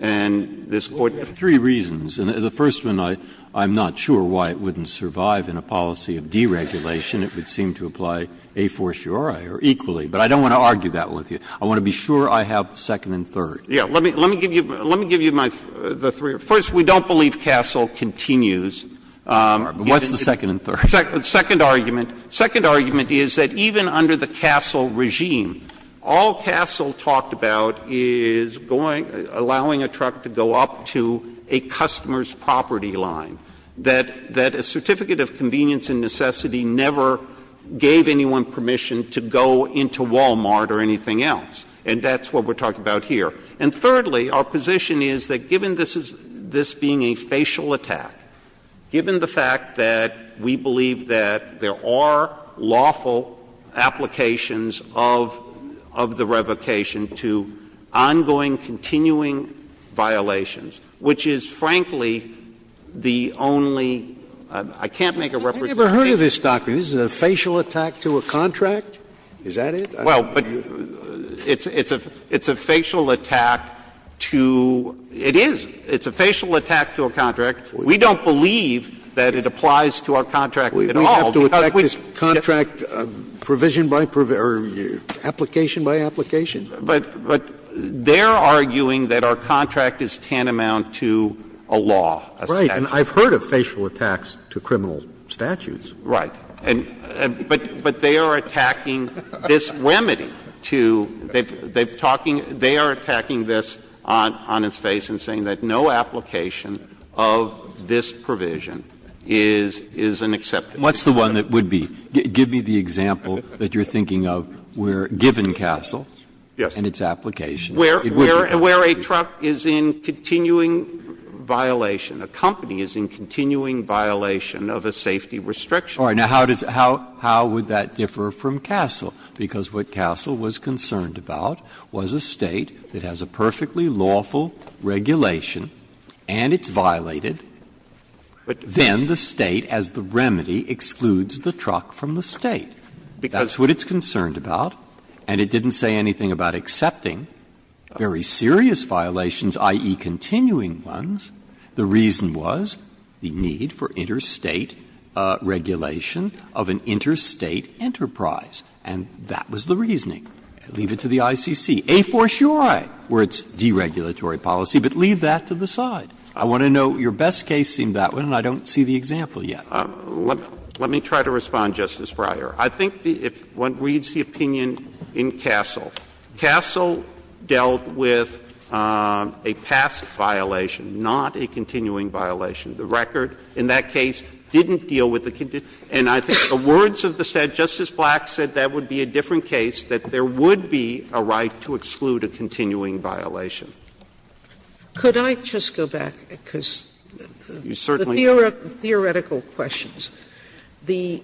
And this Court has three reasons, and the first one, I, I'm not sure why it wouldn't survive in a policy of deregulation. It would seem to apply a fortiori or equally, but I don't want to argue that with you. I want to be sure I have the second and third. Yeah. Let me, let me give you, let me give you my, the three. First, we don't believe Castle continues. What's the second and third? The second argument, second argument is that even under the Castle regime, all Castle talked about is going, allowing a truck to go up to a customer's property line, that, that a certificate of convenience and necessity never gave anyone permission to go into Wal-Mart or anything else. And that's what we're talking about here. And thirdly, our position is that given this is, this being a facial attack, given the fact that we believe that there are lawful applications of, of the revocation to ongoing, continuing violations, which is, frankly, the only, I can't make a representation. Scalia. I've never heard of this, Dr. Scalia. This is a facial attack to a contract? Is that it? Well, but it's, it's a, it's a facial attack to, it is, it's a facial attack to a contract. We don't believe that it applies to our contract at all. We have to attack this contract provision by, or application by application? But, but they're arguing that our contract is tantamount to a law. Right. And I've heard of facial attacks to criminal statutes. Right. And, but, but they are attacking this remedy to, they've, they've talking, they are attacking this on, on its face and saying that no application of this provision is, is an acceptable. What's the one that would be? Give me the example that you're thinking of where, given Castle and its application, it would be acceptable. Where, where, where a truck is in continuing violation, a company is in continuing violation of a safety restriction. All right. Now, how does it, how, how would that differ from Castle? Because what Castle was concerned about was a State that has a perfectly lawful regulation and it's violated. Then the State, as the remedy, excludes the truck from the State. That's what it's concerned about. And it didn't say anything about accepting very serious violations, i.e., continuing ones. The reason was the need for interstate regulation of an interstate enterprise. And that was the reasoning. Leave it to the ICC. A for sure, where it's deregulatory policy, but leave that to the side. I want to know, your best case seemed that one, and I don't see the example yet. Let me try to respond, Justice Breyer. I think the, if one reads the opinion in Castle, Castle dealt with a past violation, not a continuing violation. The record in that case didn't deal with the, and I think the words of the State, Justice Black, said that would be a different case, that there would be a right to exclude a continuing violation. Sotomayor, could I just go back, because the theoretical questions, the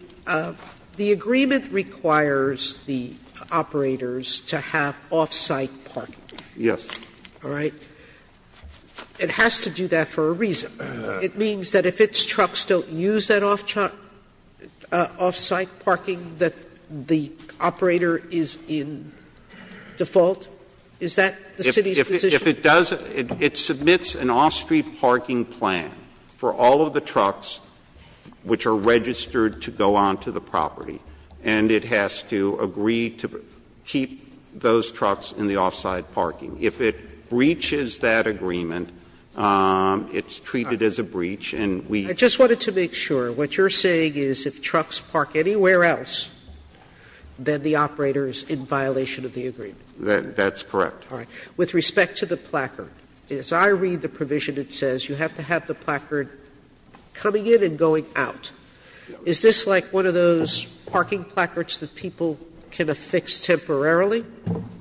agreement requires the operators to have off-site parking. Yes. It has to do that for a reason. It means that if its trucks don't use that off-site parking, that the operator is in default? Is that the city's position? If it does, it submits an off-street parking plan for all of the trucks which are registered to go onto the property, and it has to agree to keep those trucks in the off-site parking. If it breaches that agreement, it's treated as a breach, and we. Sotomayor, I just wanted to make sure. What you're saying is if trucks park anywhere else, then the operator is in violation of the agreement? That's correct. All right. With respect to the placard, as I read the provision, it says you have to have the placard coming in and going out. Is this like one of those parking placards that people can affix temporarily?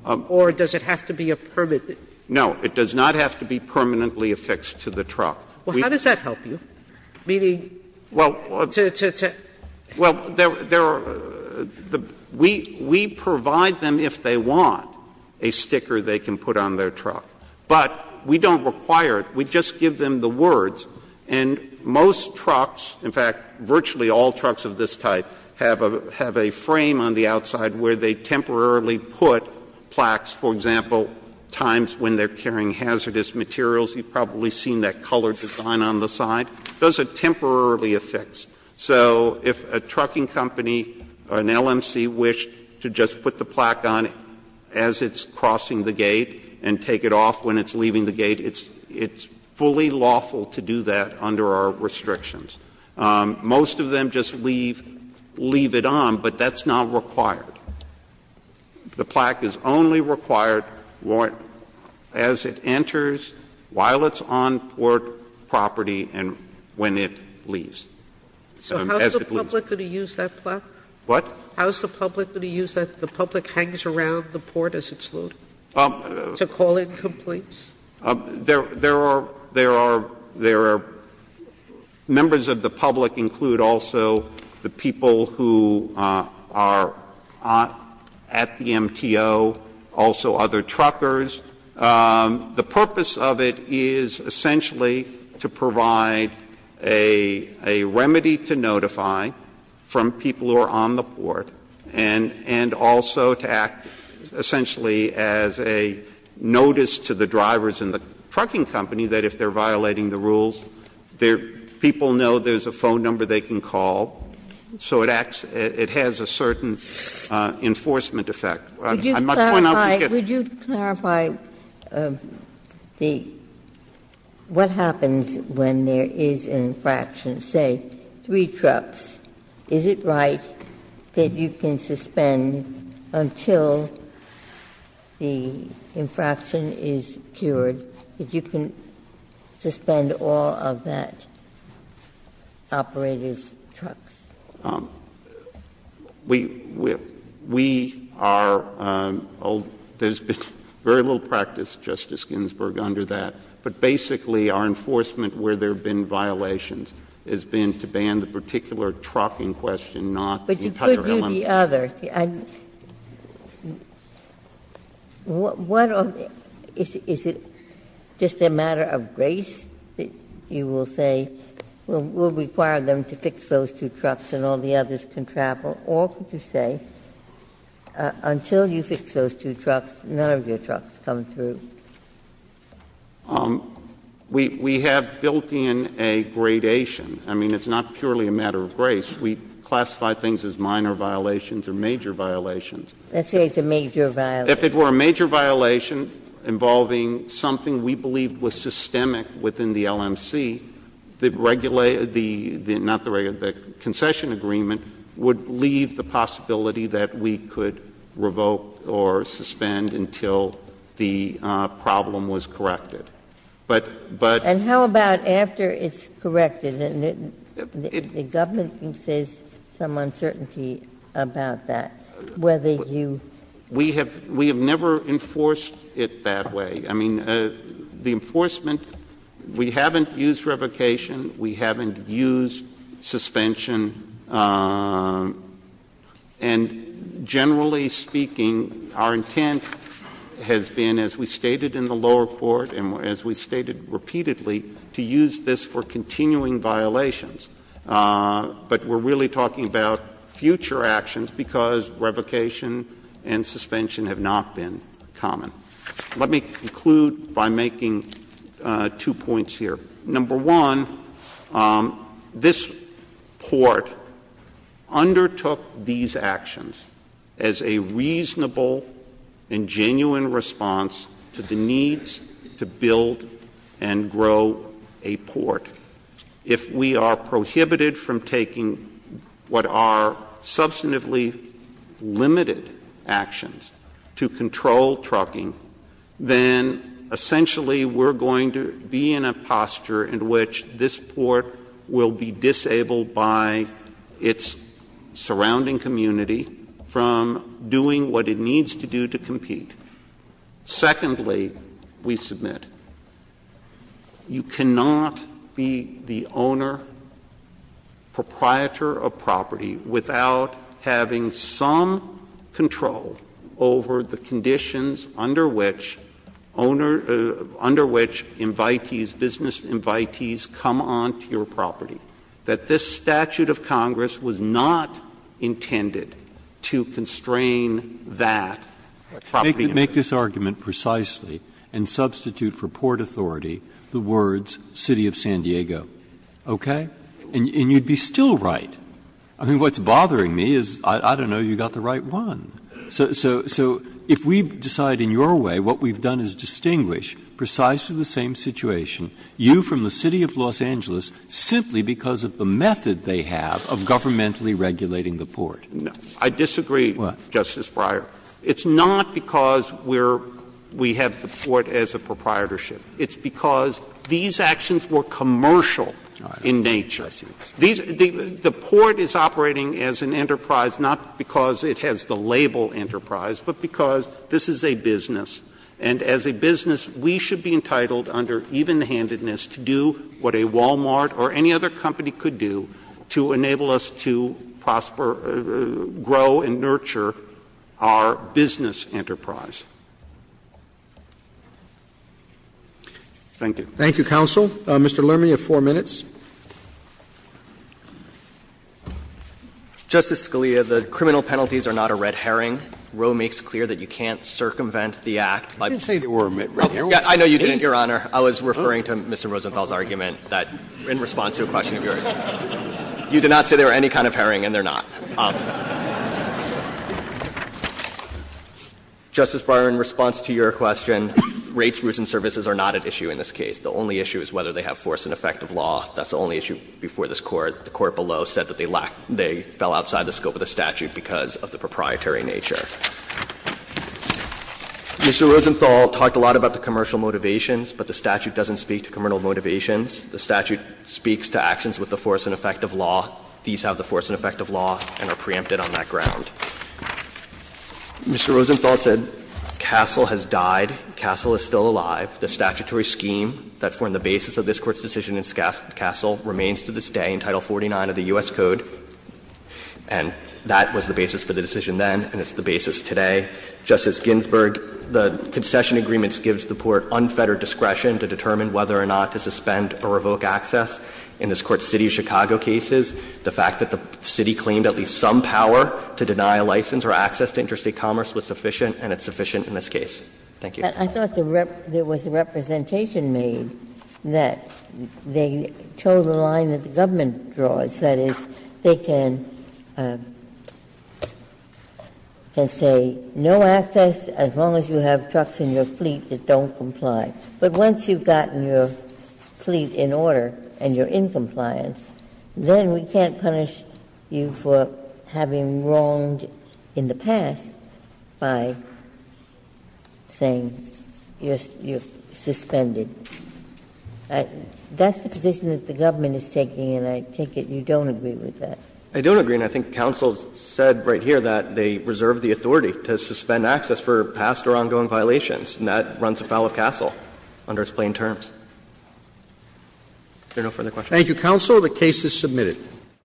Or does it have to be a permanent? No. It does not have to be permanently affixed to the truck. Well, how does that help you? Meaning to, to, to? Well, there are the we provide them, if they want, a sticker they can put on their truck, but we don't require it. We just give them the words, and most trucks, in fact, virtually all trucks of this type have a, have a frame on the outside where they temporarily put plaques. For example, times when they're carrying hazardous materials, you've probably seen that color design on the side. Those are temporarily affixed. So if a trucking company or an LMC wished to just put the plaque on as it's crossing the gate and take it off when it's leaving the gate, it's, it's fully lawful to do that under our restrictions. Most of them just leave, leave it on, but that's not required. The plaque is only required as it enters, while it's on port property, and when it leaves. So as it leaves. So how is the public going to use that plaque? What? How is the public going to use that? The public hangs around the port as it's loading to call in complaints? There, there are, there are, there are, members of the public include also the people who are at the MTO, also other truckers. The purpose of it is essentially to provide a, a remedy to notify from people who are on the port, and, and also to act essentially as a notice to the drivers in the trucking company that if they're violating the rules, their people know there's a phone number they can call, so it acts, it has a certain enforcement effect. I must point out that it's. Ginsburg. Would you clarify, would you clarify the, what happens when there is an infraction, say, three trucks? Is it right that you can suspend until the infraction is cured, that you can suspend all of that operator's trucks? We, we, we are, there's been very little practice, Justice Ginsburg, under that. But basically, our enforcement where there have been violations has been to ban the particular trucking question, not the entire element. But you could do the other. And what, what are the, is, is it just a matter of grace that you will say, we'll require them to fix those two trucks and all the others can travel? Or could you say, until you fix those two trucks, none of your trucks come through? We, we have built in a gradation. I mean, it's not purely a matter of grace. We classify things as minor violations or major violations. Let's say it's a major violation. If it were a major violation involving something we believe was systemic within the LMC, the, not the regular, the concession agreement would leave the possibility that we could revoke or suspend until the problem was corrected. But, but. And how about after it's corrected? And the, the government says some uncertainty about that. Whether you. We have, we have never enforced it that way. I mean, the enforcement, we haven't used revocation. We haven't used suspension. And generally speaking, our intent has been, as we stated in the lower court and as we stated repeatedly, to use this for continuing violations. But we're really talking about future actions because revocation and suspension have not been common. Let me conclude by making two points here. Number one, this port undertook these actions as a reasonable and genuine response to the needs to build and grow a port. If we are prohibited from taking what are substantively limited actions to control trucking, then essentially we're going to be in a posture in which this port will be disabled by its surrounding community from doing what it needs to do to compete. Secondly, we submit, you cannot be the owner, proprietor of property, without having some control over the conditions under which owner, under which invitees, business invitees come onto your property, that this statute of Congress was not intended to constrain that property. Make this argument precisely and substitute for port authority the words city of San Diego. Okay? And you'd be still right. I mean, what's bothering me is, I don't know, you got the right one. So if we decide in your way what we've done is distinguish precisely the same situation, you from the city of Los Angeles, simply because of the method they have of governmentally regulating the port. I disagree, Justice Breyer. It's not because we have the port as a proprietorship. It's because these actions were commercial in nature. The port is operating as an enterprise, not because it has the label enterprise, but because this is a business. And as a business, we should be entitled under even-handedness to do what a Wal-Mart or any other company could do to enable us to prosper, grow and nurture our business enterprise. Thank you. Roberts. Thank you, counsel. Mr. Lerman, you have 4 minutes. Justice Scalia, the criminal penalties are not a red herring. Roe makes clear that you can't circumvent the Act by the law. I didn't say there were red herrings. I know you didn't, Your Honor. I was referring to Mr. Rosenfeld's argument that in response to a question of yours. You did not say there were any kind of herring, and there are not. Justice Breyer, in response to your question, rates, routes and services are not at issue in this case. The only issue is whether they have force and effect of law. That's the only issue before this Court. The Court below said that they lack they fell outside the scope of the statute because of the proprietary nature. Mr. Rosenthal talked a lot about the commercial motivations, but the statute doesn't speak to commercial motivations. The statute speaks to actions with the force and effect of law. These have the force and effect of law and are preempted on that ground. Mr. Rosenthal said Castle has died. Castle is still alive. The statutory scheme that formed the basis of this Court's decision in Castle remains to this day in Title 49 of the U.S. Code. And that was the basis for the decision then, and it's the basis today. Justice Ginsburg, the concession agreements gives the Court unfettered discretion to determine whether or not to suspend or revoke access. In this Court's city of Chicago cases, the fact that the city claimed at least some power to deny a license or access to interstate commerce was sufficient, and it's sufficient in this case. Thank you. But I thought there was a representation made that they tow the line that the government draws, that is, they can say no access as long as you have trucks in your fleet that don't comply. But once you've gotten your fleet in order and you're in compliance, then we can't punish you for having wronged in the past by saying you're suspended. That's the position that the government is taking, and I take it you don't agree with that. I don't agree, and I think counsel said right here that they reserve the authority to suspend access for past or ongoing violations, and that runs afoul of Castle under its plain terms. Are there no further questions? Thank you, counsel. The case is submitted.